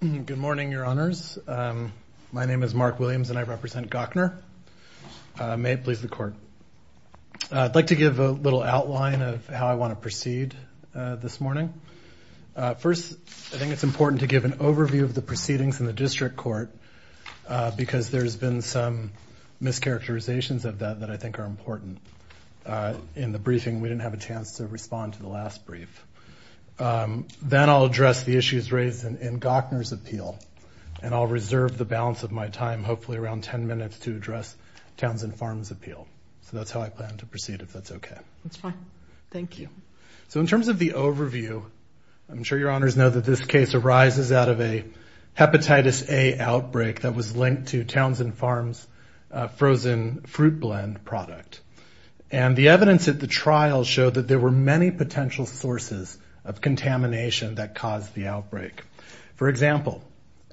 Good morning, Your Honors. My name is Mark Williams and I represent Gochner. May it please the Court. I'd like to give a little outline of how I want to proceed this morning. First, I think it's important to give an overview of the proceedings in the District Court because there's been some mischaracterizations of that that I think are important. In the briefing, we didn't have a chance to respond to the last brief. Then I'll address the issues raised in Gochner's appeal, and I'll reserve the balance of my time, hopefully around 10 minutes, to address Townsend Farms' appeal. So that's how I plan to proceed, if that's okay. That's fine. Thank you. So in terms of the overview, I'm sure Your Honors know that this case arises out of a Hepatitis A outbreak that was linked to Townsend Farms' frozen fruit blend product. And the evidence at the trial showed that there were many potential sources of contamination that caused the outbreak. For example,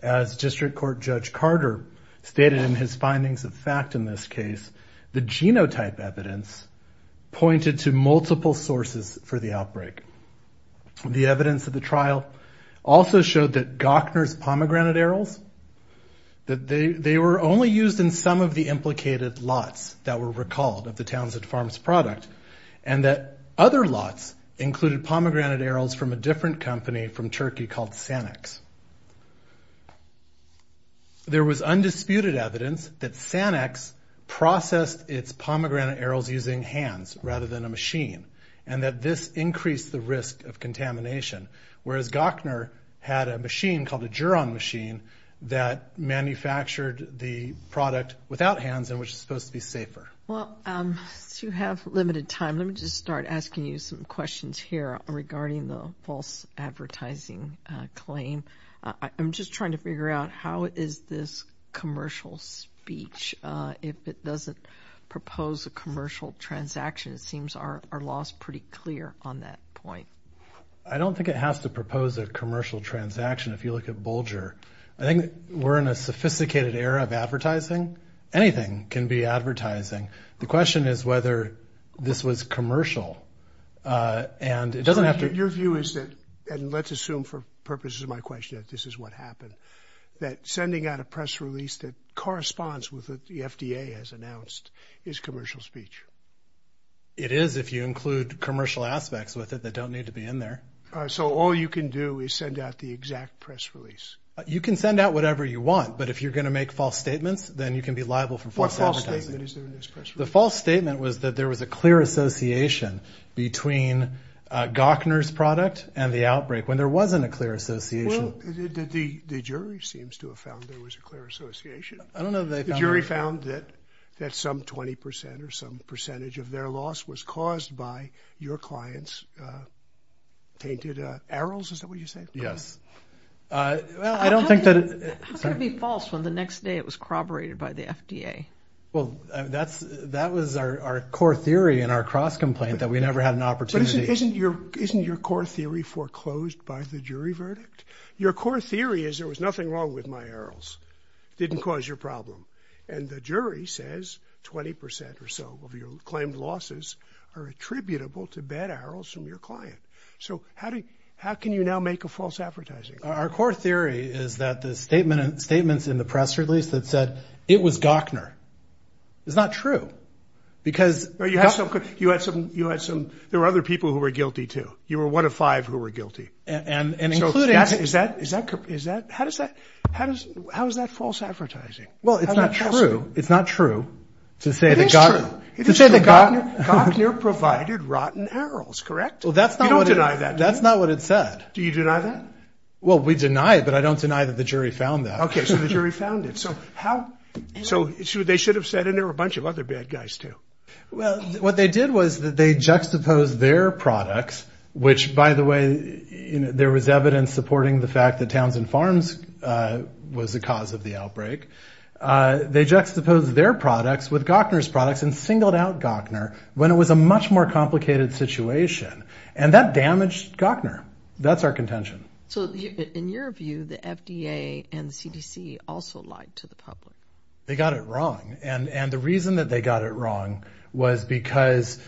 as District Court Judge Carter stated in his findings of fact in this case, the genotype evidence pointed to multiple sources for the outbreak. The evidence of the trial also showed that Gochner's pomegranate arils, that they were only used in some of the implicated lots that were recalled of the Townsend Farms product, and that other lots included pomegranate arils from a different company from Turkey called Sanex. There was undisputed evidence that Sanex processed its pomegranate arils using hands rather than a machine, and that this increased the risk of contamination, whereas Gochner had a machine called a Geron machine that manufactured the product without hands and was supposed to be safer. Well, since you have limited time, let me just start asking you some questions here regarding the false advertising claim. I'm just trying to figure out how is this commercial speech, if it doesn't propose a commercial transaction. It seems our law is pretty clear on that point. I don't think it has to propose a commercial transaction if you look at Bulger. I think we're in a sophisticated era of advertising. Anything can be advertising. The question is whether this was commercial, and it doesn't have to be. Your view is that, and let's assume for purposes of my question that this is what happened, that sending out a press release that corresponds with what the FDA has announced is commercial speech. It is if you include commercial aspects with it that don't need to be in there. So all you can do is send out the exact press release. You can send out whatever you want, but if you're going to make false statements, then you can be liable for false advertising. What false statement is there in this press release? The false statement was that there was a clear association between Gochner's product and the outbreak, when there wasn't a clear association. Well, the jury seems to have found there was a clear association. I don't know that they found that. They found that some 20 percent or some percentage of their loss was caused by your client's tainted arrows. Is that what you say? Yes. Well, I don't think that it's going to be false when the next day it was corroborated by the FDA. Well, that was our core theory in our cross-complaint, that we never had an opportunity. Isn't your core theory foreclosed by the jury verdict? Your core theory is there was nothing wrong with my arrows. It didn't cause your problem. And the jury says 20 percent or so of your claimed losses are attributable to bad arrows from your client. So how can you now make a false advertising? Our core theory is that the statements in the press release that said it was Gochner is not true because – You had some – there were other people who were guilty, too. You were one of five who were guilty. So is that – how is that false advertising? Well, it's not true. It's not true to say that Gochner – It is true. To say that Gochner provided rotten arrows, correct? Well, that's not what it – You don't deny that, do you? That's not what it said. Do you deny that? Well, we deny it, but I don't deny that the jury found that. Okay. So the jury found it. So how – so they should have said – and there were a bunch of other bad guys, too. Well, what they did was that they juxtaposed their products, which, by the way, there was evidence supporting the fact that Townsend Farms was the cause of the outbreak. They juxtaposed their products with Gochner's products and singled out Gochner when it was a much more complicated situation. And that damaged Gochner. That's our contention. So in your view, the FDA and the CDC also lied to the public. They got it wrong. And the reason that they got it wrong was because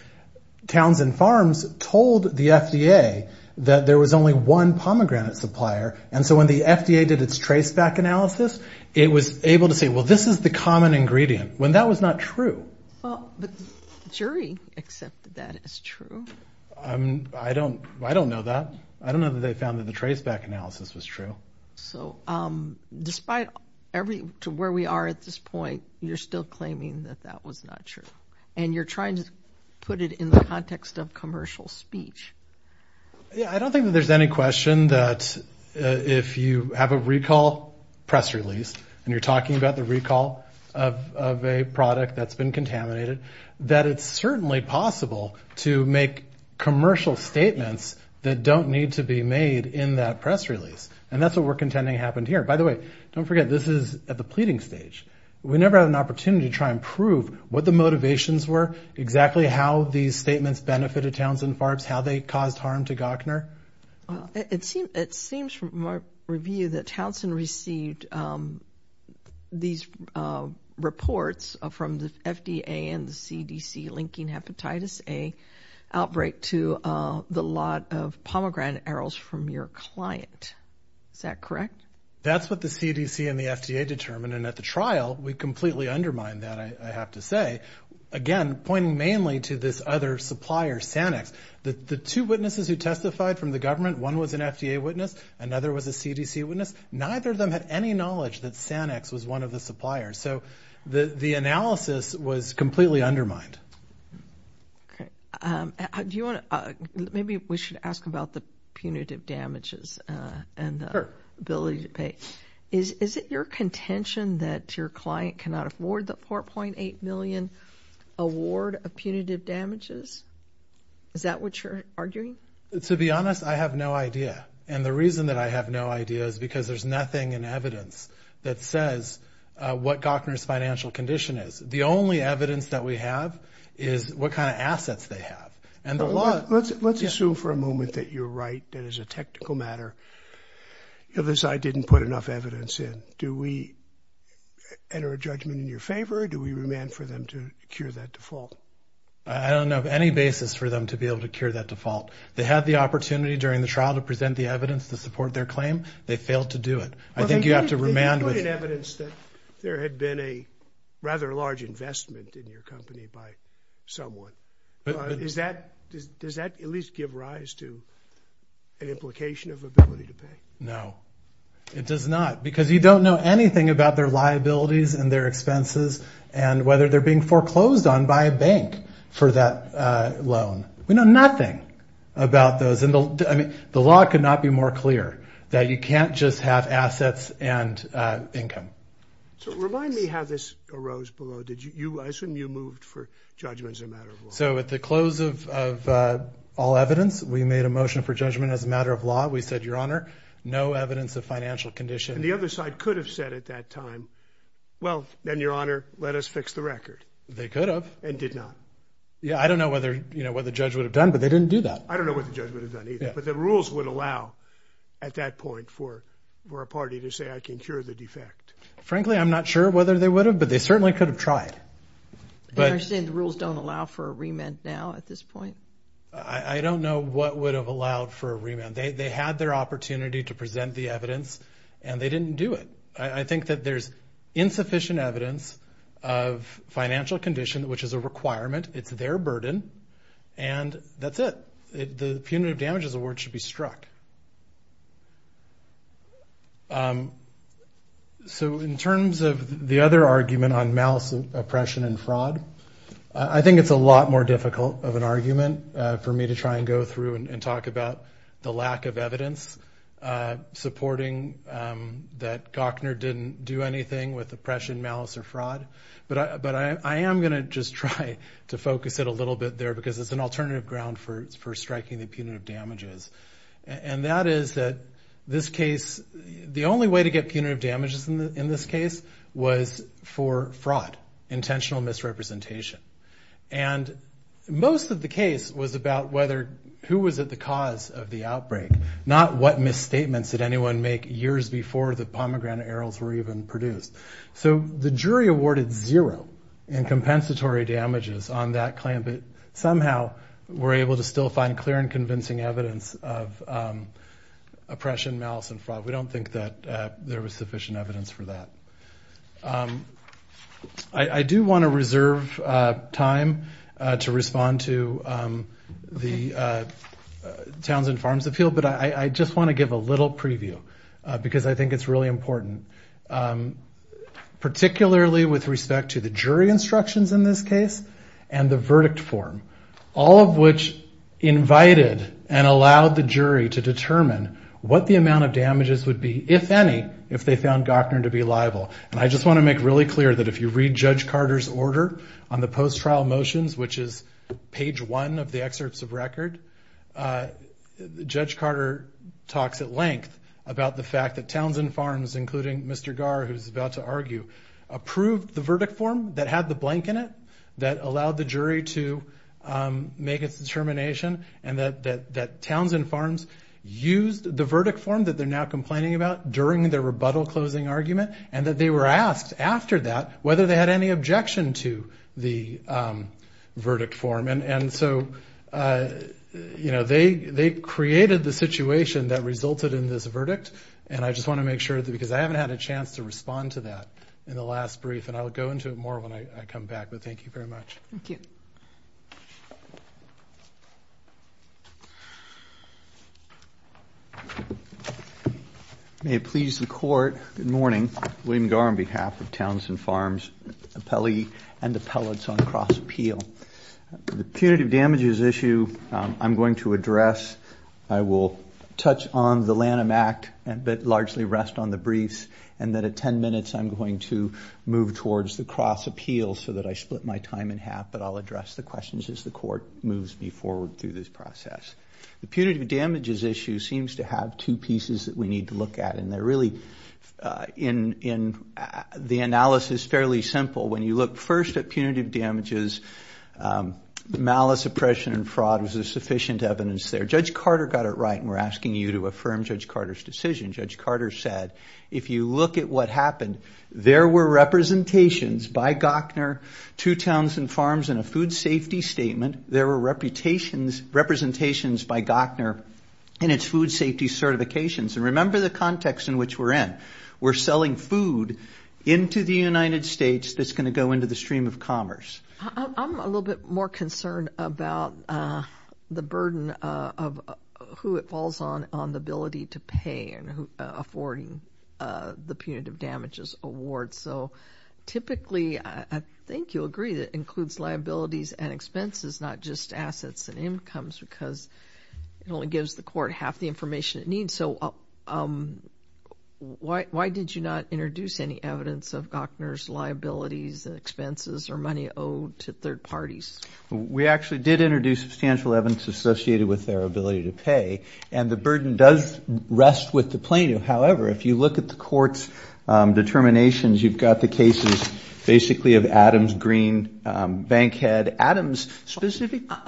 Townsend Farms told the FDA that there was only one pomegranate supplier. And so when the FDA did its traceback analysis, it was able to say, well, this is the common ingredient, when that was not true. Well, but the jury accepted that as true. I don't know that. I don't know that they found that the traceback analysis was true. So despite to where we are at this point, you're still claiming that that was not true. And you're trying to put it in the context of commercial speech. I don't think that there's any question that if you have a recall press release and you're talking about the recall of a product that's been contaminated, that it's certainly possible to make commercial statements that don't need to be made in that press release. And that's what we're contending happened here. By the way, don't forget, this is at the pleading stage. We never had an opportunity to try and prove what the motivations were, exactly how these statements benefited Townsend Farms, how they caused harm to Gochner. It seems from my review that Townsend received these reports from the FDA and the CDC linking hepatitis A outbreak to the lot of pomegranate arils from your client. Is that correct? That's what the CDC and the FDA determined. And at the trial, we completely undermined that, I have to say, again, pointing mainly to this other supplier, Sanix. The two witnesses who testified from the government, one was an FDA witness, another was a CDC witness, neither of them had any knowledge that Sanix was one of the suppliers. So the analysis was completely undermined. Okay. Do you want to – maybe we should ask about the punitive damages and the ability to pay. Is it your contention that your client cannot afford the $4.8 million award of punitive damages? Is that what you're arguing? To be honest, I have no idea. And the reason that I have no idea is because there's nothing in evidence that says what Gochner's financial condition is. The only evidence that we have is what kind of assets they have. Let's assume for a moment that you're right. That is a technical matter. You'll decide I didn't put enough evidence in. Do we enter a judgment in your favor or do we demand for them to cure that default? I don't have any basis for them to be able to cure that default. They had the opportunity during the trial to present the evidence to support their claim. They failed to do it. I think you have to remand with – Well, then you put in evidence that there had been a rather large investment in your company by someone. Does that at least give rise to an implication of ability to pay? No. It does not. Because you don't know anything about their liabilities and their expenses and whether they're being foreclosed on by a bank for that loan. We know nothing about those. The law could not be more clear that you can't just have assets and income. So remind me how this arose below. I assume you moved for judgment as a matter of law. So at the close of all evidence, we made a motion for judgment as a matter of law. We said, Your Honor, no evidence of financial condition. And the other side could have said at that time, Well, then, Your Honor, let us fix the record. They could have. And did not. Yeah, I don't know what the judge would have done, but they didn't do that. I don't know what the judge would have done either. But the rules would allow at that point for a party to say, I can cure the defect. Frankly, I'm not sure whether they would have, but they certainly could have tried. You're saying the rules don't allow for a remand now at this point? I don't know what would have allowed for a remand. They had their opportunity to present the evidence, and they didn't do it. I think that there's insufficient evidence of financial condition, which is a requirement. It's their burden. And that's it. The Punitive Damages Award should be struck. So in terms of the other argument on malice, oppression, and fraud, I think it's a lot more difficult of an argument for me to try and go through and talk about the lack of evidence supporting that Gochner didn't do anything with oppression, malice, or fraud. But I am going to just try to focus it a little bit there because it's an alternative ground for striking the punitive damages. And that is that this case, the only way to get punitive damages in this case was for fraud, intentional misrepresentation. And most of the case was about who was at the cause of the outbreak, not what misstatements did anyone make years before the pomegranate arils were even produced. So the jury awarded zero in compensatory damages on that claim, but somehow were able to still find clear and convincing evidence of oppression, malice, and fraud. We don't think that there was sufficient evidence for that. I do want to reserve time to respond to the Towns and Farms Appeal, but I just want to give a little preview because I think it's really important, particularly with respect to the jury instructions in this case and the verdict form, all of which invited and allowed the jury to determine what the amount of damages would be, if any, if they found Gochner to be liable. And I just want to make really clear that if you read Judge Carter's order on the post-trial motions, which is page one of the excerpts of record, Judge Carter talks at length about the fact that Towns and Farms, including Mr. Gar, who's about to argue, approved the verdict form that had the blank in it, that allowed the jury to make its determination, and that Towns and Farms used the verdict form that they're now complaining about during their rebuttal closing argument, and that they were asked after that whether they had any objection to the verdict form. And so, you know, they created the situation that resulted in this verdict, and I just want to make sure, because I haven't had a chance to respond to that in the last brief, and I'll go into it more when I come back, but thank you very much. Thank you. May it please the Court, good morning. William Gar on behalf of Towns and Farms, appellee and appellates on cross-appeal. The punitive damages issue I'm going to address. I will touch on the Lanham Act but largely rest on the briefs, and then at 10 minutes I'm going to move towards the cross-appeals so that I split my time in half, but I'll address the questions as the Court moves me forward through this process. The punitive damages issue seems to have two pieces that we need to look at, and they're really in the analysis fairly simple. When you look first at punitive damages, malice, oppression, and fraud, was there sufficient evidence there? Judge Carter got it right, and we're asking you to affirm Judge Carter's decision. Judge Carter said, if you look at what happened, there were representations by Gochner to Towns and Farms in a food safety statement. There were representations by Gochner in its food safety certifications, and remember the context in which we're in. We're selling food into the United States that's going to go into the stream of commerce. I'm a little bit more concerned about the burden of who it falls on on the ability to pay and affording the punitive damages award. So typically, I think you'll agree that it includes liabilities and expenses, not just assets and incomes, because it only gives the Court half the information it needs. So why did you not introduce any evidence of Gochner's liabilities and expenses or money owed to third parties? We actually did introduce substantial evidence associated with their ability to pay, and the burden does rest with the plaintiff. However, if you look at the Court's determinations, you've got the cases basically of Adams, Green, Bankhead. I'm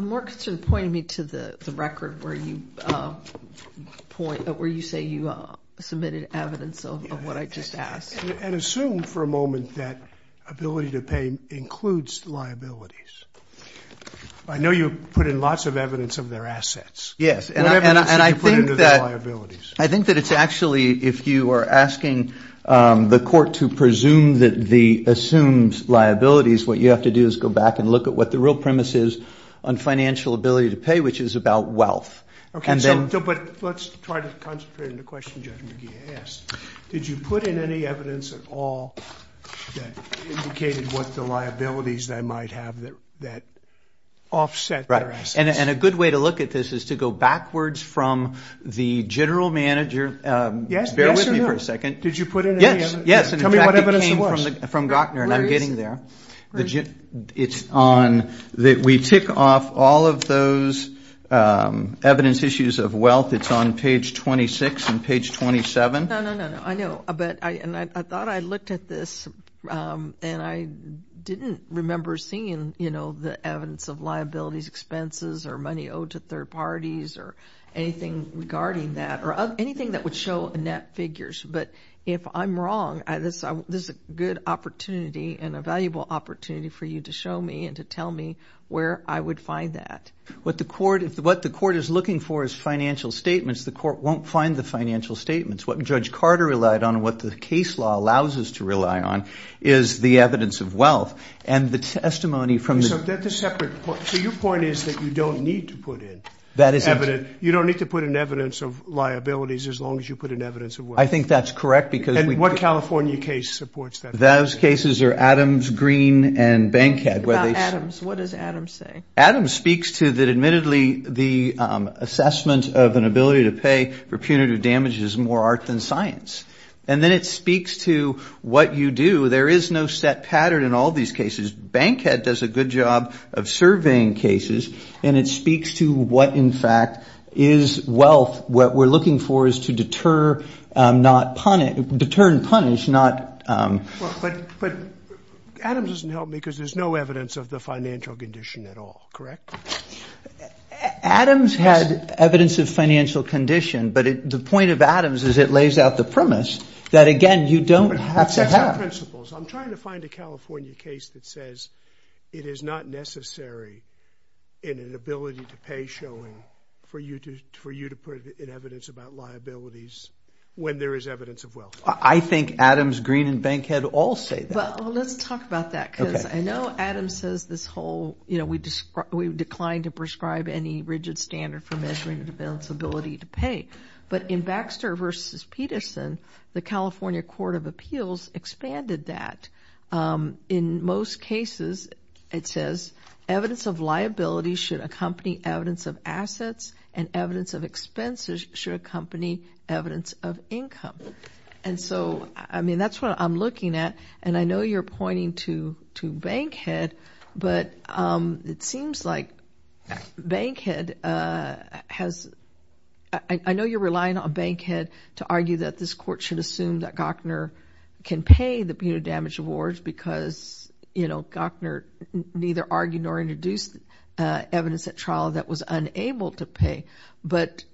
more concerned pointing me to the record where you say you submitted evidence of what I just asked. And assume for a moment that ability to pay includes liabilities. I know you put in lots of evidence of their assets. Yes, and I think that it's actually if you are asking the Court to presume that the assumed liabilities, what you have to do is go back and look at what the real premise is on financial ability to pay, which is about wealth. Okay, but let's try to concentrate on the question Judge McGee asked. Did you put in any evidence at all that indicated what the liabilities they might have that offset their assets? And a good way to look at this is to go backwards from the general manager. Yes. Bear with me for a second. Did you put in any evidence? Yes, yes. Tell me what evidence it was. In fact, it came from Gochner, and I'm getting there. It's on that we tick off all of those evidence issues of wealth. It's on page 26 and page 27. No, no, no, no. I know, but I thought I looked at this, and I didn't remember seeing, you know, the evidence of liabilities, expenses, or money owed to third parties, or anything regarding that or anything that would show net figures. But if I'm wrong, this is a good opportunity and a valuable opportunity for you to show me and to tell me where I would find that. What the Court is looking for is financial statements. The Court won't find the financial statements. What Judge Carter relied on and what the case law allows us to rely on is the evidence of wealth. And the testimony from the ---- So that's a separate point. So your point is that you don't need to put in evidence. You don't need to put in evidence of liabilities as long as you put in evidence of wealth. I think that's correct because we ---- And what California case supports that? Those cases are Adams, Green, and Bankhead. What about Adams? What does Adams say? The assessment of an ability to pay for punitive damage is more art than science. And then it speaks to what you do. There is no set pattern in all these cases. Bankhead does a good job of surveying cases, and it speaks to what, in fact, is wealth. What we're looking for is to deter, not punish, deter and punish, not ---- But Adams doesn't help me because there's no evidence of the financial condition at all, correct? Adams had evidence of financial condition, but the point of Adams is it lays out the premise that, again, you don't have to have. But that's not principles. I'm trying to find a California case that says it is not necessary in an ability to pay showing for you to put in evidence about liabilities when there is evidence of wealth. I think Adams, Green, and Bankhead all say that. Well, let's talk about that because I know Adams says this whole, you know, we declined to prescribe any rigid standard for measuring the ability to pay. But in Baxter v. Peterson, the California Court of Appeals expanded that. In most cases, it says evidence of liability should accompany evidence of assets and evidence of expenses should accompany evidence of income. And so, I mean, that's what I'm looking at. And I know you're pointing to Bankhead, but it seems like Bankhead has ---- I know you're relying on Bankhead to argue that this court should assume that Gochner can pay the penal damage awards because, you know, Gochner neither argued nor introduced evidence at trial that was unable to pay. But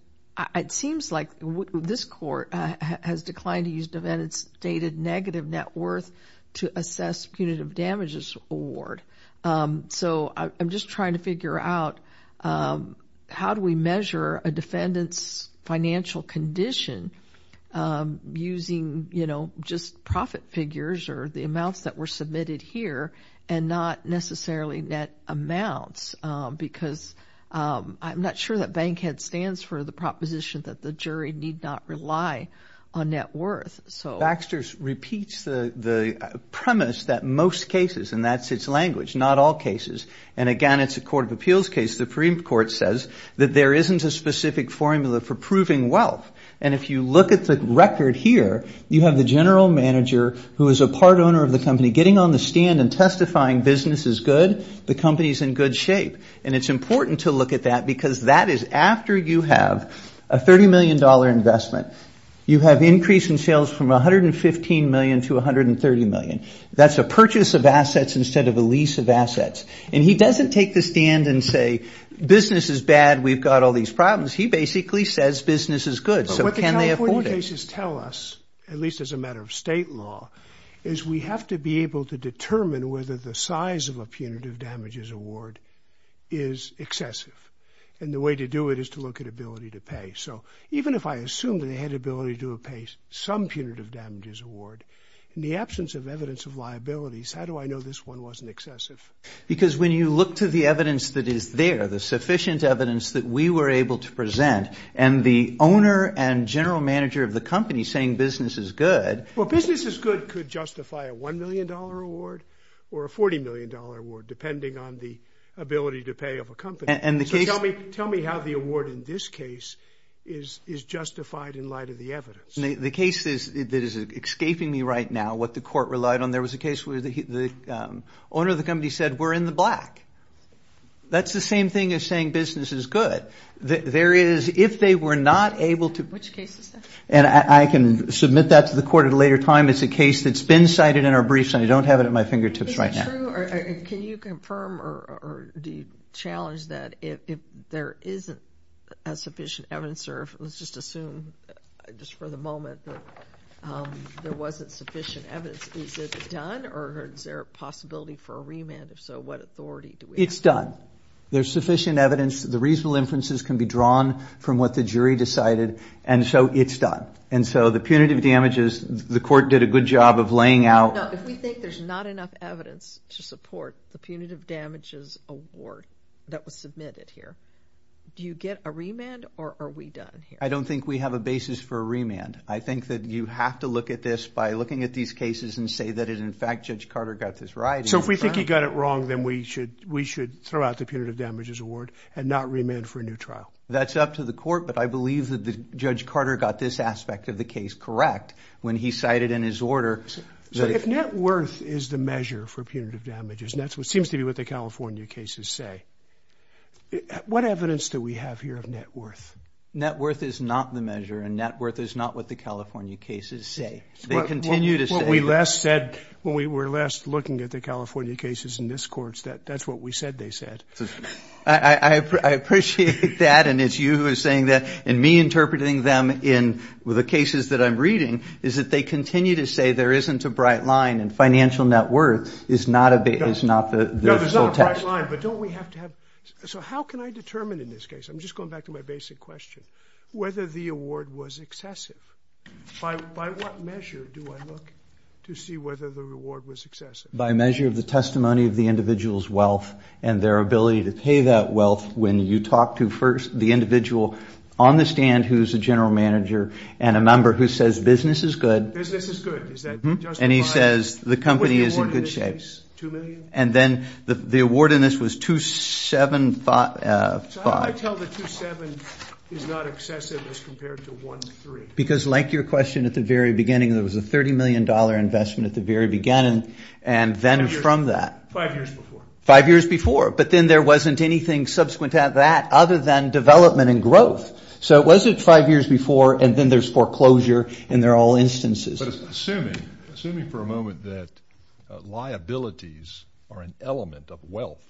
it seems like this court has declined to use defendant's stated negative net worth to assess punitive damages award. So I'm just trying to figure out how do we measure a defendant's financial condition using, you know, just profit figures or the amounts that were submitted here and not necessarily net amounts because I'm not sure that Bankhead stands for the proposition that the jury need not rely on net worth. So Baxter repeats the premise that most cases, and that's its language, not all cases. And again, it's a court of appeals case. The Supreme Court says that there isn't a specific formula for proving wealth. And if you look at the record here, you have the general manager who is a part owner of the company getting on the stand and testifying business is good, the company is in good shape. And it's important to look at that because that is after you have a $30 million investment, you have increase in sales from $115 million to $130 million. That's a purchase of assets instead of a lease of assets. And he doesn't take the stand and say business is bad, we've got all these problems. He basically says business is good. So can they afford it? What cases tell us, at least as a matter of state law, is we have to be able to determine whether the size of a punitive damages award is excessive. And the way to do it is to look at ability to pay. So even if I assume that they had ability to pay some punitive damages award, in the absence of evidence of liabilities, how do I know this one wasn't excessive? Because when you look to the evidence that is there, the sufficient evidence that we were able to present, and the owner and general manager of the company saying business is good. Well, business is good could justify a $1 million award or a $40 million award, depending on the ability to pay of a company. So tell me how the award in this case is justified in light of the evidence. The case that is escaping me right now, what the court relied on, there was a case where the owner of the company said we're in the black. That's the same thing as saying business is good. But there is, if they were not able to. Which case is that? And I can submit that to the court at a later time. It's a case that's been cited in our briefs, and I don't have it at my fingertips right now. Is it true, or can you confirm or do you challenge that if there isn't sufficient evidence, or let's just assume just for the moment that there wasn't sufficient evidence, is it done or is there a possibility for a remand? If so, what authority do we have? It's done. There's sufficient evidence. The reasonable inferences can be drawn from what the jury decided, and so it's done. And so the punitive damages, the court did a good job of laying out. No, if we think there's not enough evidence to support the punitive damages award that was submitted here, do you get a remand or are we done here? I don't think we have a basis for a remand. I think that you have to look at this by looking at these cases and say that in fact Judge Carter got this right. So if we think he got it wrong, then we should throw out the punitive damages award and not remand for a new trial? That's up to the court, but I believe that Judge Carter got this aspect of the case correct when he cited in his order. So if net worth is the measure for punitive damages, and that seems to be what the California cases say, what evidence do we have here of net worth? Net worth is not the measure, and net worth is not what the California cases say. What we last said when we were last looking at the California cases in this court, that's what we said they said. I appreciate that, and it's you who is saying that, and me interpreting them in the cases that I'm reading is that they continue to say there isn't a bright line and financial net worth is not the full text. No, there's not a bright line. So how can I determine in this case, I'm just going back to my basic question, whether the award was excessive? By what measure do I look to see whether the reward was excessive? By measure of the testimony of the individual's wealth and their ability to pay that wealth when you talk to first the individual on the stand who is a general manager and a member who says business is good. Business is good. And he says the company is in good shape. Was the award in this case $2 million? And then the award in this was $275. So how do I tell the 27 is not excessive as compared to 13? Because like your question at the very beginning, there was a $30 million investment at the very beginning and then from that. Five years before. Five years before, but then there wasn't anything subsequent to that other than development and growth. So it wasn't five years before and then there's foreclosure in their all instances. But assuming for a moment that liabilities are an element of wealth,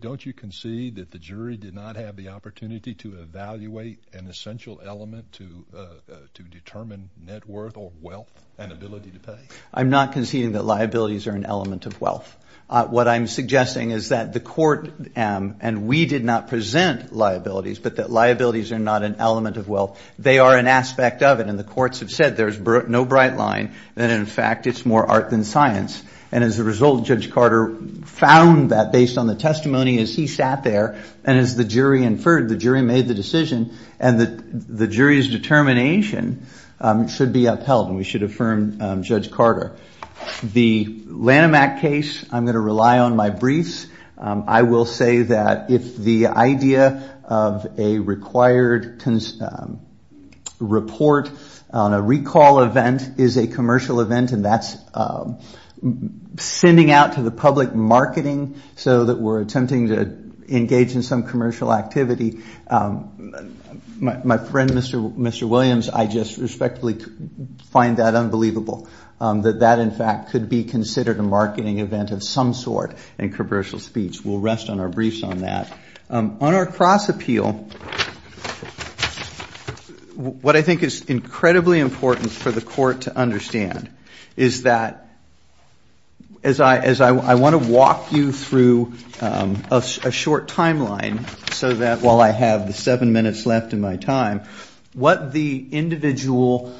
don't you concede that the jury did not have the opportunity to evaluate an essential element to determine net worth or wealth and ability to pay? I'm not conceding that liabilities are an element of wealth. What I'm suggesting is that the court, and we did not present liabilities, but that liabilities are not an element of wealth. They are an aspect of it and the courts have said there's no bright line and, in fact, it's more art than science. And as a result, Judge Carter found that based on the testimony as he sat there and as the jury inferred, the jury made the decision and the jury's determination should be upheld and we should affirm Judge Carter. The Lanham Act case, I'm going to rely on my briefs. I will say that if the idea of a required report on a recall event is a commercial event and that's sending out to the public marketing so that we're attempting to engage in some commercial activity, my friend, Mr. Williams, I just respectfully find that unbelievable, that that, in fact, could be considered a marketing event of some sort in commercial speech. We'll rest on our briefs on that. On our cross appeal, what I think is incredibly important for the court to understand is that, as I want to walk you through a short timeline so that while I have the seven minutes left in my time, what the individual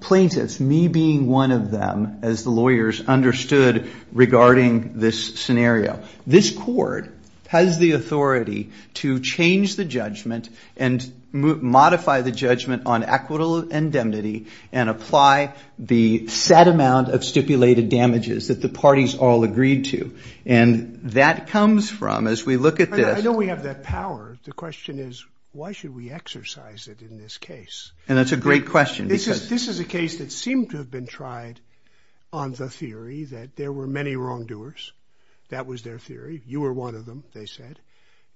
plaintiffs, me being one of them as the lawyers, understood regarding this scenario. This court has the authority to change the judgment and modify the judgment on equitable indemnity and apply the set amount of stipulated damages that the parties all agreed to. And that comes from, as we look at this. I know we have that power. The question is why should we exercise it in this case? And that's a great question. This is a case that seemed to have been tried on the theory that there were many wrongdoers. That was their theory. You were one of them, they said.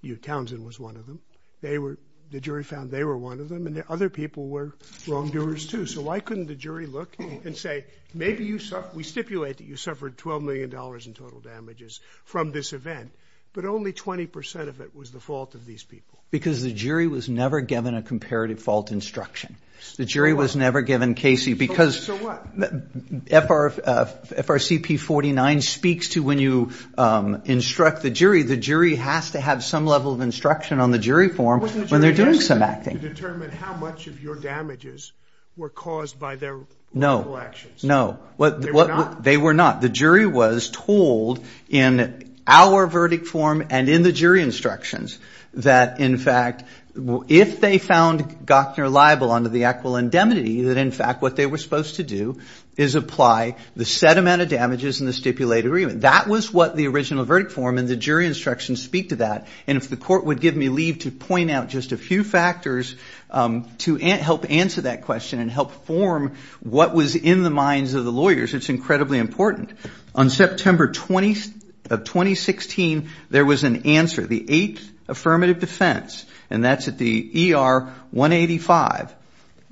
You, Townsend, was one of them. They were, the jury found they were one of them. And the other people were wrongdoers, too. So why couldn't the jury look and say, maybe you, we stipulate that you suffered $12 million in total damages from this event, but only 20% of it was the fault of these people. Because the jury was never given a comparative fault instruction. The jury was never given Casey. So what? FRCP 49 speaks to when you instruct the jury, the jury has to have some level of instruction on the jury form when they're doing some acting. It wasn't the jury's job to determine how much of your damages were caused by their wrongful actions. No, no. They were not. They were not. The jury was told in our verdict form and in the jury instructions that, in fact, if they found Gochner liable under the Actual Indemnity, that, in fact, what they were supposed to do is apply the set amount of damages in the stipulated agreement. That was what the original verdict form and the jury instructions speak to that. And if the court would give me leave to point out just a few factors to help answer that question and help form what was in the minds of the lawyers, it's incredibly important. On September 20th of 2016, there was an answer, the eighth affirmative defense, and that's at the ER 185.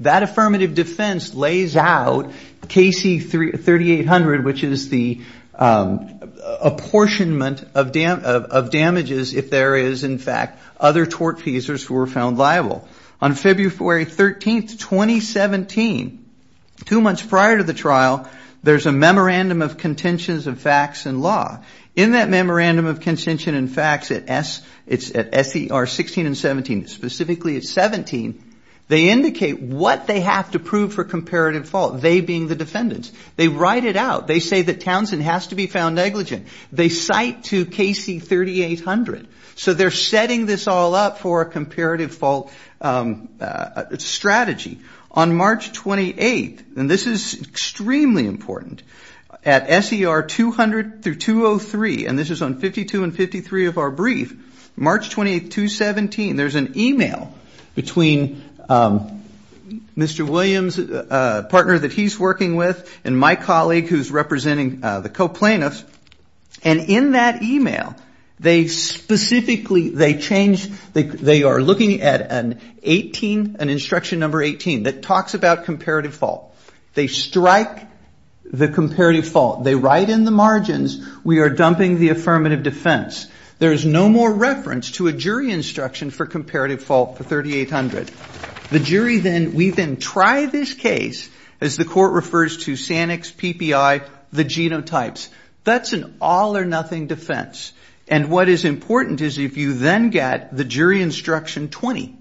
That affirmative defense lays out Casey 3800, which is the apportionment of damages if there is, in fact, other tortfeasors who were found liable. On February 13th, 2017, two months prior to the trial, there's a Memorandum of Contentions of Facts and Law. In that Memorandum of Contentions and Facts at SCR 16 and 17, specifically at 17, they indicate what they have to prove for comparative fault, they being the defendants. They write it out. They say that Townsend has to be found negligent. They cite to Casey 3800. So they're setting this all up for a comparative fault strategy. On March 28th, and this is extremely important, at SCR 200 through 203, and this is on 52 and 53 of our brief, March 28th, 2017, there's an email between Mr. Williams, a partner that he's working with, and my colleague who's representing the co-plaintiffs. And in that email, they specifically, they change, they are looking at an instruction number 18 that talks about comparative fault. They strike the comparative fault. They write in the margins, we are dumping the affirmative defense. There is no more reference to a jury instruction for comparative fault for 3800. The jury then, we then try this case, as the court refers to SANEX, PPI, the genotypes. That's an all or nothing defense. And what is important is if you then get the jury instruction 20,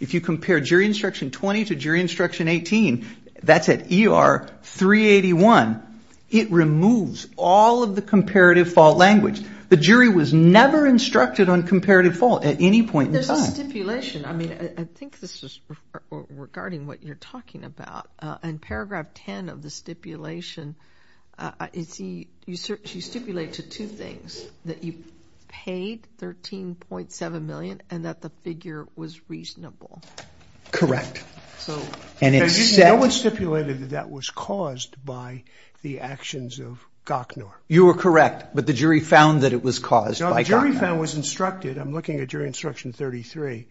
if you compare jury instruction 20 to jury instruction 18, that's at ER 381, it removes all of the comparative fault language. The jury was never instructed on comparative fault at any point in time. There's a stipulation. I mean, I think this is regarding what you're talking about. In paragraph 10 of the stipulation, you stipulate to two things, that you paid $13.7 million and that the figure was reasonable. Correct. No one stipulated that that was caused by the actions of Gochner. You are correct, but the jury found that it was caused by Gochner. The jury found, was instructed, I'm looking at jury instruction 33,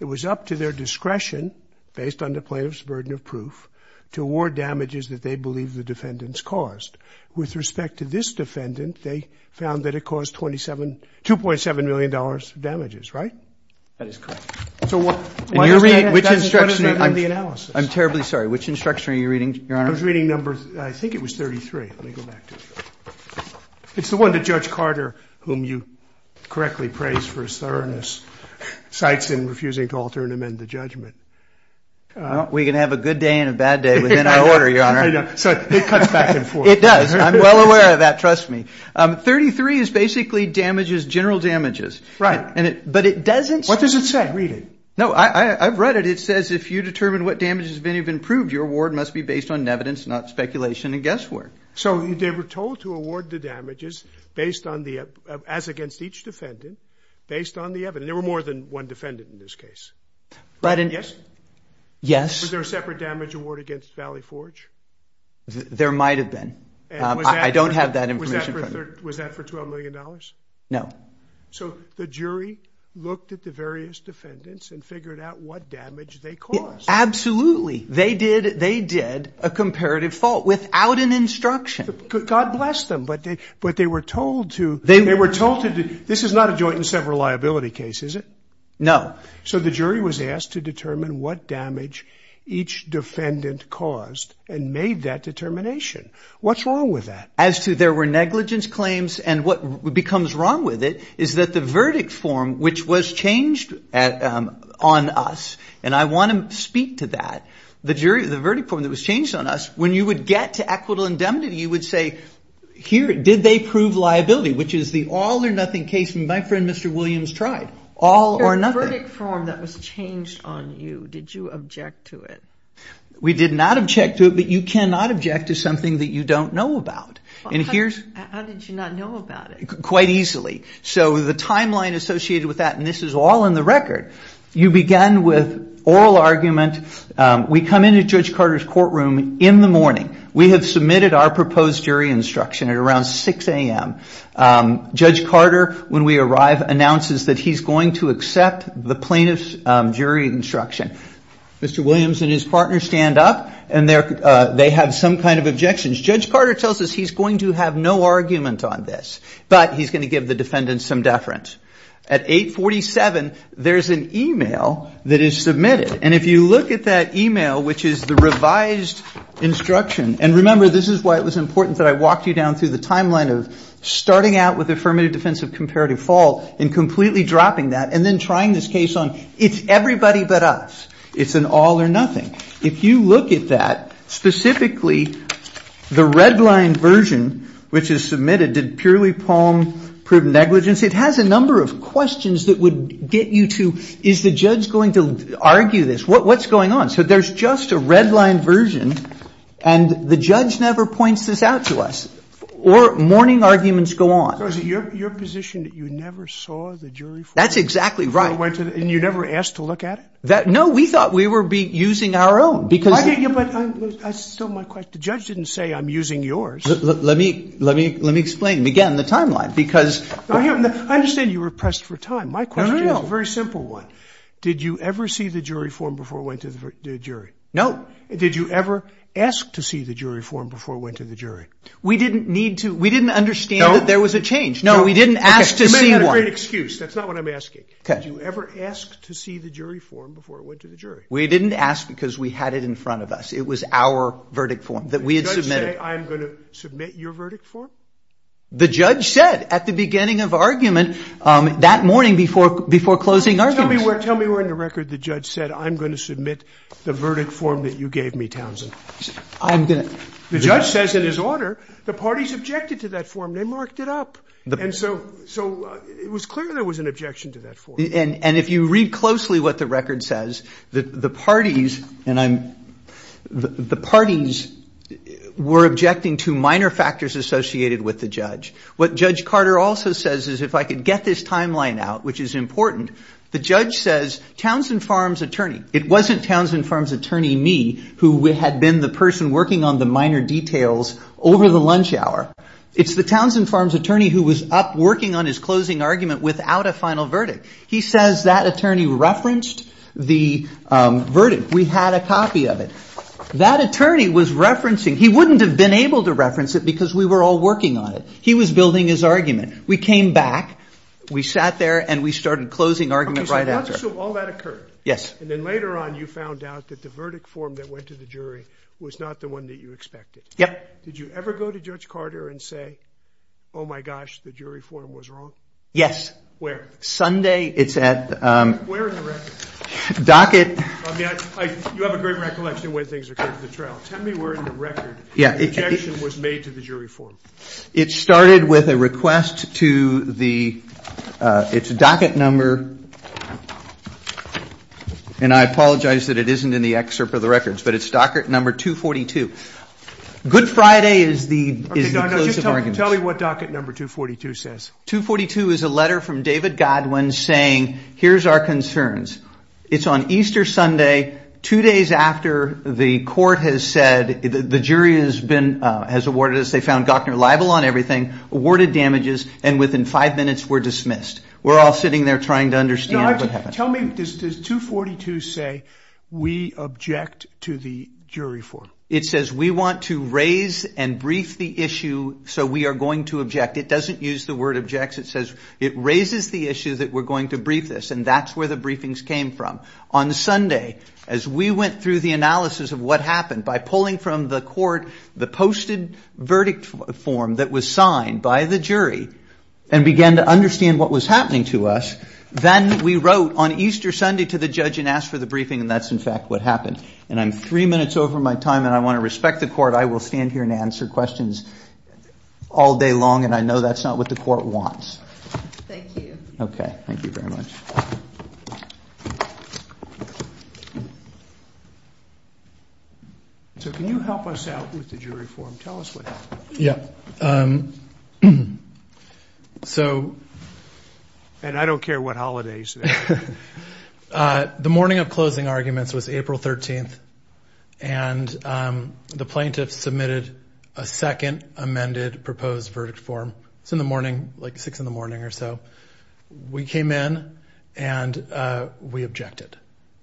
it was up to their discretion, based on the plaintiff's burden of proof, to award damages that they believe the defendants caused. With respect to this defendant, they found that it caused $27, $2.7 million of damages, right? That is correct. So what is that in the analysis? I'm terribly sorry. Which instruction are you reading, Your Honor? I was reading number, I think it was 33. Let me go back to it. It's the one that Judge Carter, whom you correctly praised for his thoroughness, cites in refusing to alter and amend the judgment. We can have a good day and a bad day within our order, Your Honor. I know. So it cuts back and forth. It does. I'm well aware of that, trust me. 33 is basically damages, general damages. Right. But it doesn't say. What does it say? Read it. No, I've read it. It says if you determine what damages have been improved, your award must be based on evidence, not speculation and guesswork. So they were told to award the damages based on the, as against each defendant, based on the evidence. There were more than one defendant in this case, right? Yes? Yes. Was there a separate damage award against Valley Forge? There might have been. I don't have that information. Was that for $12 million? No. So the jury looked at the various defendants and figured out what damage they caused. Absolutely. They did a comparative fault without an instruction. God bless them. But they were told to. They were told to. This is not a joint and sever liability case, is it? No. So the jury was asked to determine what damage each defendant caused and made that determination. What's wrong with that? As to there were negligence claims. And what becomes wrong with it is that the verdict form, which was changed on us, and I want to speak to that, the verdict form that was changed on us, when you would get to equitable indemnity, you would say, here, did they prove liability, which is the all or nothing case my friend Mr. Williams tried. All or nothing. The verdict form that was changed on you, did you object to it? We did not object to it, but you cannot object to something that you don't know about. How did you not know about it? Quite easily. So the timeline associated with that, and this is all in the record, you began with oral argument. We come into Judge Carter's courtroom in the morning. We have submitted our proposed jury instruction at around 6 a.m. Judge Carter, when we arrive, announces that he's going to accept the plaintiff's jury instruction. Mr. Williams and his partner stand up, and they have some kind of objections. Judge Carter tells us he's going to have no argument on this, but he's going to give the defendant some deference. At 847, there's an e-mail that is submitted, and if you look at that e-mail, which is the revised instruction, and remember, this is why it was important that I walked you down through the timeline of starting out with affirmative, defensive, comparative, fault, and completely dropping that, and then trying this case on, it's everybody but us. It's an all or nothing. If you look at that, specifically, the red line version, which is submitted, did purely poem, proved negligence, it has a number of questions that would get you to, is the judge going to argue this? What's going on? So there's just a red line version, and the judge never points this out to us, or morning arguments go on. So is it your position that you never saw the jury form? That's exactly right. And you never asked to look at it? No, we thought we were using our own. But that's still my question. The judge didn't say I'm using yours. Let me explain again the timeline. I understand you were pressed for time. My question is a very simple one. Did you ever see the jury form before it went to the jury? No. Did you ever ask to see the jury form before it went to the jury? We didn't need to. We didn't understand that there was a change. No. No, we didn't ask to see one. You may have a great excuse. That's not what I'm asking. Did you ever ask to see the jury form before it went to the jury? We didn't ask because we had it in front of us. It was our verdict form that we had submitted. Did the judge say I'm going to submit your verdict form? The judge said at the beginning of argument that morning before closing argument. Tell me where in the record the judge said I'm going to submit the verdict form that you gave me, Townsend. The judge says in his order the parties objected to that form. They marked it up. And so it was clear there was an objection to that form. And if you read closely what the record says, the parties were objecting to minor factors associated with the judge. What Judge Carter also says is if I could get this timeline out, which is important, the judge says Townsend Farms attorney. It wasn't Townsend Farms attorney me who had been the person working on the minor details over the lunch hour. It's the Townsend Farms attorney who was up working on his closing argument without a final verdict. He says that attorney referenced the verdict. We had a copy of it. That attorney was referencing. He wouldn't have been able to reference it because we were all working on it. He was building his argument. We came back. We sat there and we started closing argument right after. So all that occurred. Yes. And then later on you found out that the verdict form that went to the jury was not the one that you expected. Yep. Did you ever go to Judge Carter and say, oh, my gosh, the jury form was wrong? Yes. Where? Sunday. Where in the record? Docket. You have a great recollection of when things occurred at the trial. Tell me where in the record the objection was made to the jury form. It started with a request to the docket number. And I apologize that it isn't in the excerpt of the records, but it's docket number 242. Good Friday is the close of arguments. Tell me what docket number 242 says. 242 is a letter from David Godwin saying, here's our concerns. It's on Easter Sunday, two days after the court has said the jury has awarded us. They found Gochner liable on everything, awarded damages, and within five minutes were dismissed. We're all sitting there trying to understand what happened. Tell me, does 242 say we object to the jury form? It says we want to raise and brief the issue so we are going to object. It doesn't use the word objects. It says it raises the issue that we're going to brief this, and that's where the briefings came from. On Sunday, as we went through the analysis of what happened by pulling from the court the posted verdict form that was signed by the jury and began to understand what was happening to us, then we wrote on Easter Sunday to the judge and asked for the briefing, and that's, in fact, what happened. And I'm three minutes over my time, and I want to respect the court. I will stand here and answer questions all day long, and I know that's not what the court wants. Thank you. Okay. Thank you very much. So can you help us out with the jury form? Tell us what happened. Yeah. So. And I don't care what holidays. The morning of closing arguments was April 13th, and the plaintiffs submitted a second amended proposed verdict form. It's in the morning, like six in the morning or so. We came in, and we objected.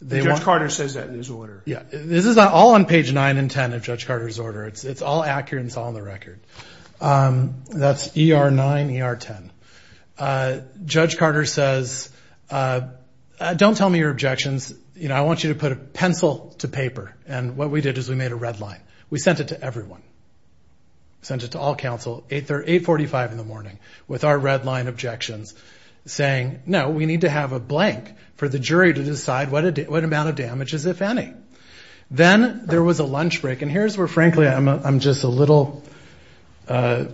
Judge Carter says that in his order. Yeah. This is all on page 9 and 10 of Judge Carter's order. It's all accurate and it's all on the record. That's ER 9, ER 10. Judge Carter says, don't tell me your objections. You know, I want you to put a pencil to paper. And what we did is we made a red line. We sent it to everyone. Sent it to all counsel, 845 in the morning, with our red line objections, saying, no, we need to have a blank for the jury to decide what amount of damage is, if any. Then there was a lunch break. And here's where, frankly, I'm just a little, I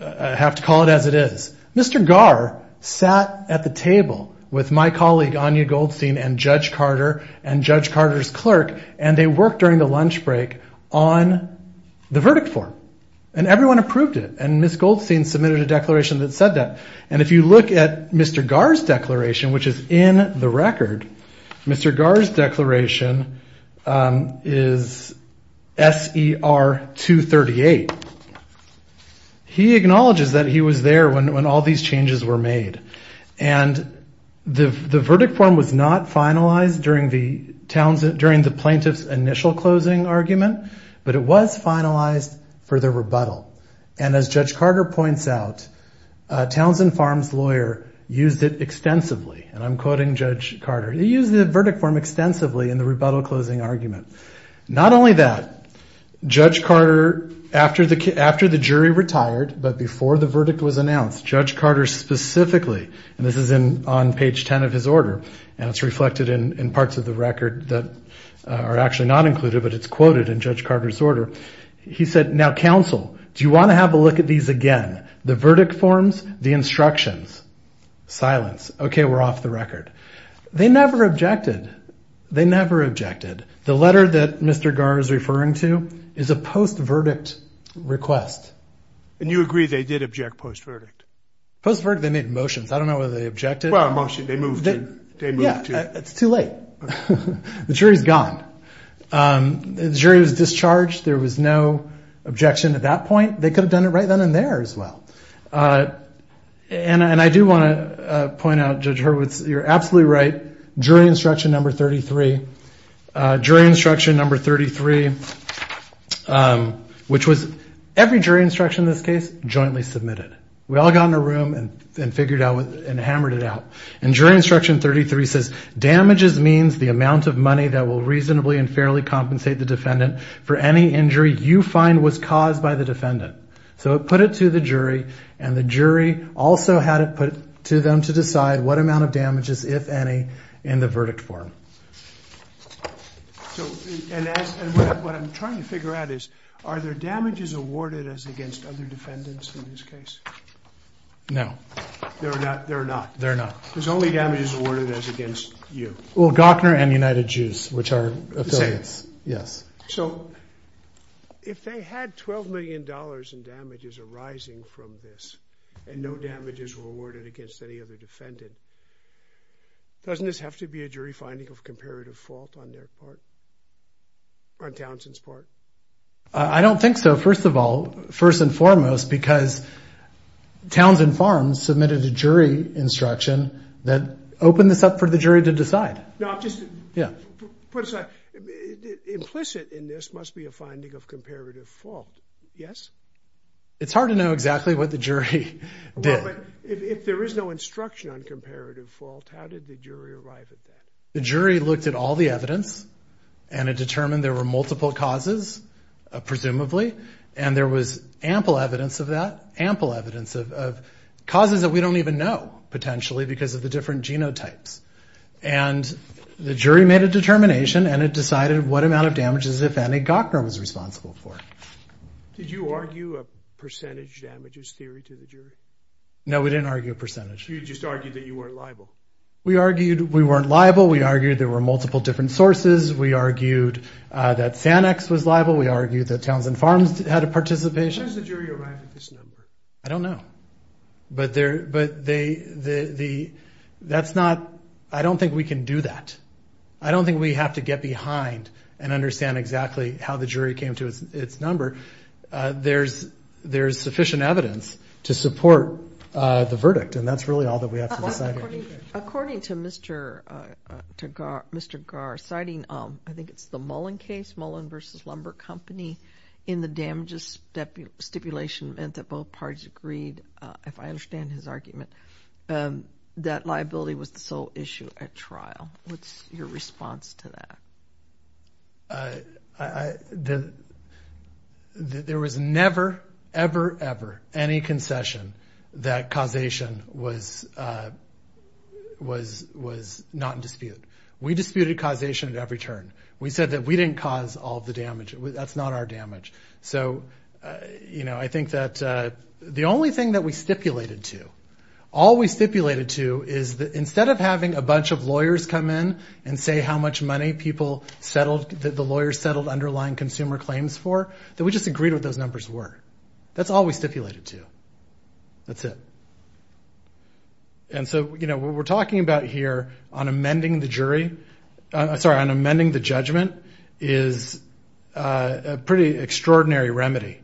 have to call it as it is. Mr. Garr sat at the table with my colleague Anya Goldstein and Judge Carter and Judge Carter's clerk, and they worked during the lunch break on the verdict form. And everyone approved it. And Ms. Goldstein submitted a declaration that said that. And if you look at Mr. Garr's declaration, which is in the record, Mr. Garr's declaration is SER 238. He acknowledges that he was there when all these changes were made. And the verdict form was not finalized during the plaintiff's initial closing argument, but it was finalized for the rebuttal. And as Judge Carter points out, Townsend Farms' lawyer used it extensively. And I'm quoting Judge Carter. He used the verdict form extensively in the rebuttal closing argument. Not only that, Judge Carter, after the jury retired, but before the verdict was announced, Judge Carter specifically, and this is on page 10 of his order, and it's reflected in parts of the record that are actually not included, but it's quoted in Judge Carter's order. He said, now, counsel, do you want to have a look at these again, the verdict forms, the instructions? Silence. Okay, we're off the record. They never objected. They never objected. The letter that Mr. Garr is referring to is a post-verdict request. And you agree they did object post-verdict? Post-verdict, they made motions. I don't know whether they objected. Well, a motion. They moved to. Yeah, it's too late. The jury's gone. The jury was discharged. There was no objection at that point. They could have done it right then and there as well. And I do want to point out, Judge Hurwitz, you're absolutely right, jury instruction number 33. Jury instruction number 33, which was every jury instruction in this case, jointly submitted. We all got in a room and figured out and hammered it out. And jury instruction 33 says, Damages means the amount of money that will reasonably and fairly compensate the defendant for any injury you find was caused by the defendant. So it put it to the jury, and the jury also had it put to them to decide what amount of damages, if any, in the verdict form. And what I'm trying to figure out is, are there damages awarded against other defendants in this case? No. There are not? There are not. There are not. You. Well, Gochner and United Juice, which are affiliates. The same. Yes. So if they had $12 million in damages arising from this and no damages were awarded against any other defendant, doesn't this have to be a jury finding of comparative fault on their part, on Townsend's part? I don't think so, first of all. First and foremost, because Townsend Farms submitted a jury instruction that opened this up for the jury to decide. No, I'm just. Yeah. Put aside. Implicit in this must be a finding of comparative fault, yes? It's hard to know exactly what the jury did. Well, but if there is no instruction on comparative fault, how did the jury arrive at that? The jury looked at all the evidence and it determined there were multiple causes, presumably, and there was ample evidence of that, ample evidence of causes that we don't even know, potentially, because of the different genotypes. And the jury made a determination and it decided what amount of damages, if any, Gochner was responsible for. Did you argue a percentage damages theory to the jury? No, we didn't argue a percentage. You just argued that you weren't liable. We argued we weren't liable. We argued there were multiple different sources. We argued that Sanex was liable. We argued that Townsend Farms had a participation. When does the jury arrive at this number? I don't know. But that's not. I don't think we can do that. I don't think we have to get behind and understand exactly how the jury came to its number. There's sufficient evidence to support the verdict, and that's really all that we have to decide on. According to Mr. Gar, citing, I think it's the Mullen case, Mullen v. Lumber Company, in the damages stipulation meant that both parties agreed, if I understand his argument, that liability was the sole issue at trial. What's your response to that? There was never, ever, ever any concession that causation was not in dispute. We disputed causation at every turn. We said that we didn't cause all the damage. That's not our damage. So, you know, I think that the only thing that we stipulated to, all we stipulated to, is that instead of having a bunch of lawyers come in and say how much money people settled, the lawyers settled underlying consumer claims for, that we just agreed what those numbers were. That's all we stipulated to. That's it. And so, you know, what we're talking about here on amending the jury, sorry, on amending the judgment is a pretty extraordinary remedy.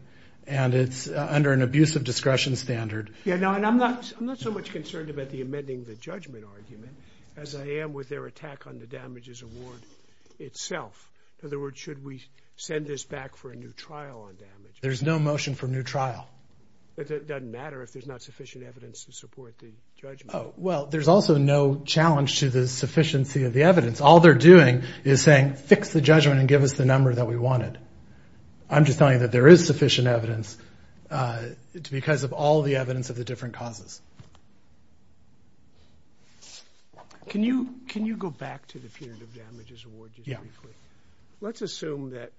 And it's under an abusive discretion standard. Yeah, no, and I'm not so much concerned about the amending the judgment argument as I am with their attack on the damages award itself. In other words, should we send this back for a new trial on damage? There's no motion for a new trial. It doesn't matter if there's not sufficient evidence to support the judgment. Well, there's also no challenge to the sufficiency of the evidence. All they're doing is saying fix the judgment and give us the number that we wanted. I'm just telling you that there is sufficient evidence because of all the evidence of the different causes. Can you go back to the punitive damages award just briefly? Yeah. Let's assume that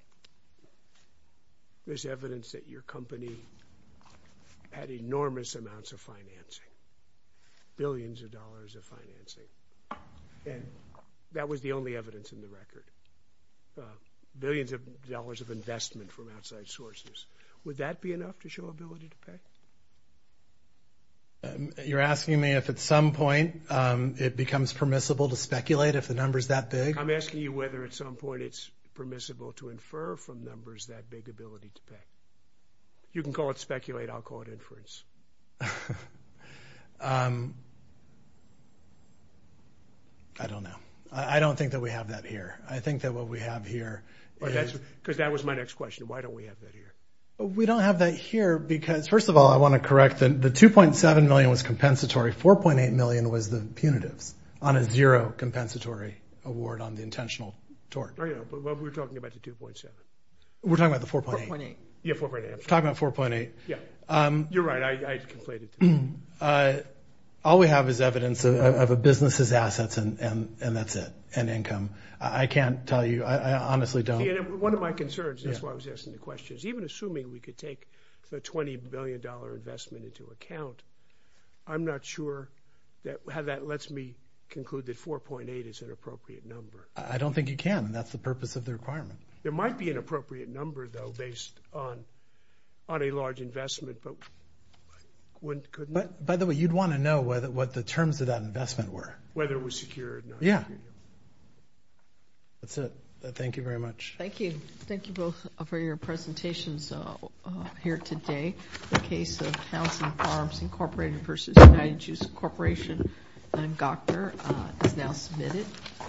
there's evidence that your company had enormous amounts of financing, billions of dollars of financing, and that was the only evidence in the record. Billions of dollars of investment from outside sources. Would that be enough to show ability to pay? You're asking me if at some point it becomes permissible to speculate if the number's that big? I'm asking you whether at some point it's permissible to infer from numbers that big ability to pay. You can call it speculate. I'll call it inference. I don't know. I don't think that we have that here. I think that what we have here is— Because that was my next question. Why don't we have that here? We don't have that here because, first of all, I want to correct. The $2.7 million was compensatory. $4.8 million was the punitives on a zero compensatory award on the intentional tort. Oh, yeah, but we're talking about the $2.7. We're talking about the $4.8. $4.8. Yeah, $4.8. We're talking about $4.8. Yeah. You're right. I conflated. All we have is evidence of a business's assets, and that's it, and income. I can't tell you. I honestly don't. One of my concerns, and that's why I was asking the question, is even assuming we could take the $20 billion investment into account, I'm not sure how that lets me conclude that $4.8 is an appropriate number. I don't think you can. That's the purpose of the requirement. There might be an appropriate number, though, based on a large investment, but couldn't— By the way, you'd want to know what the terms of that investment were. Whether it was secure or not. Yeah. That's it. Thank you very much. Thank you. Thank you both for your presentations here today. The case of House and Farms Incorporated v. United Juice Corporation, Dr. is now submitted.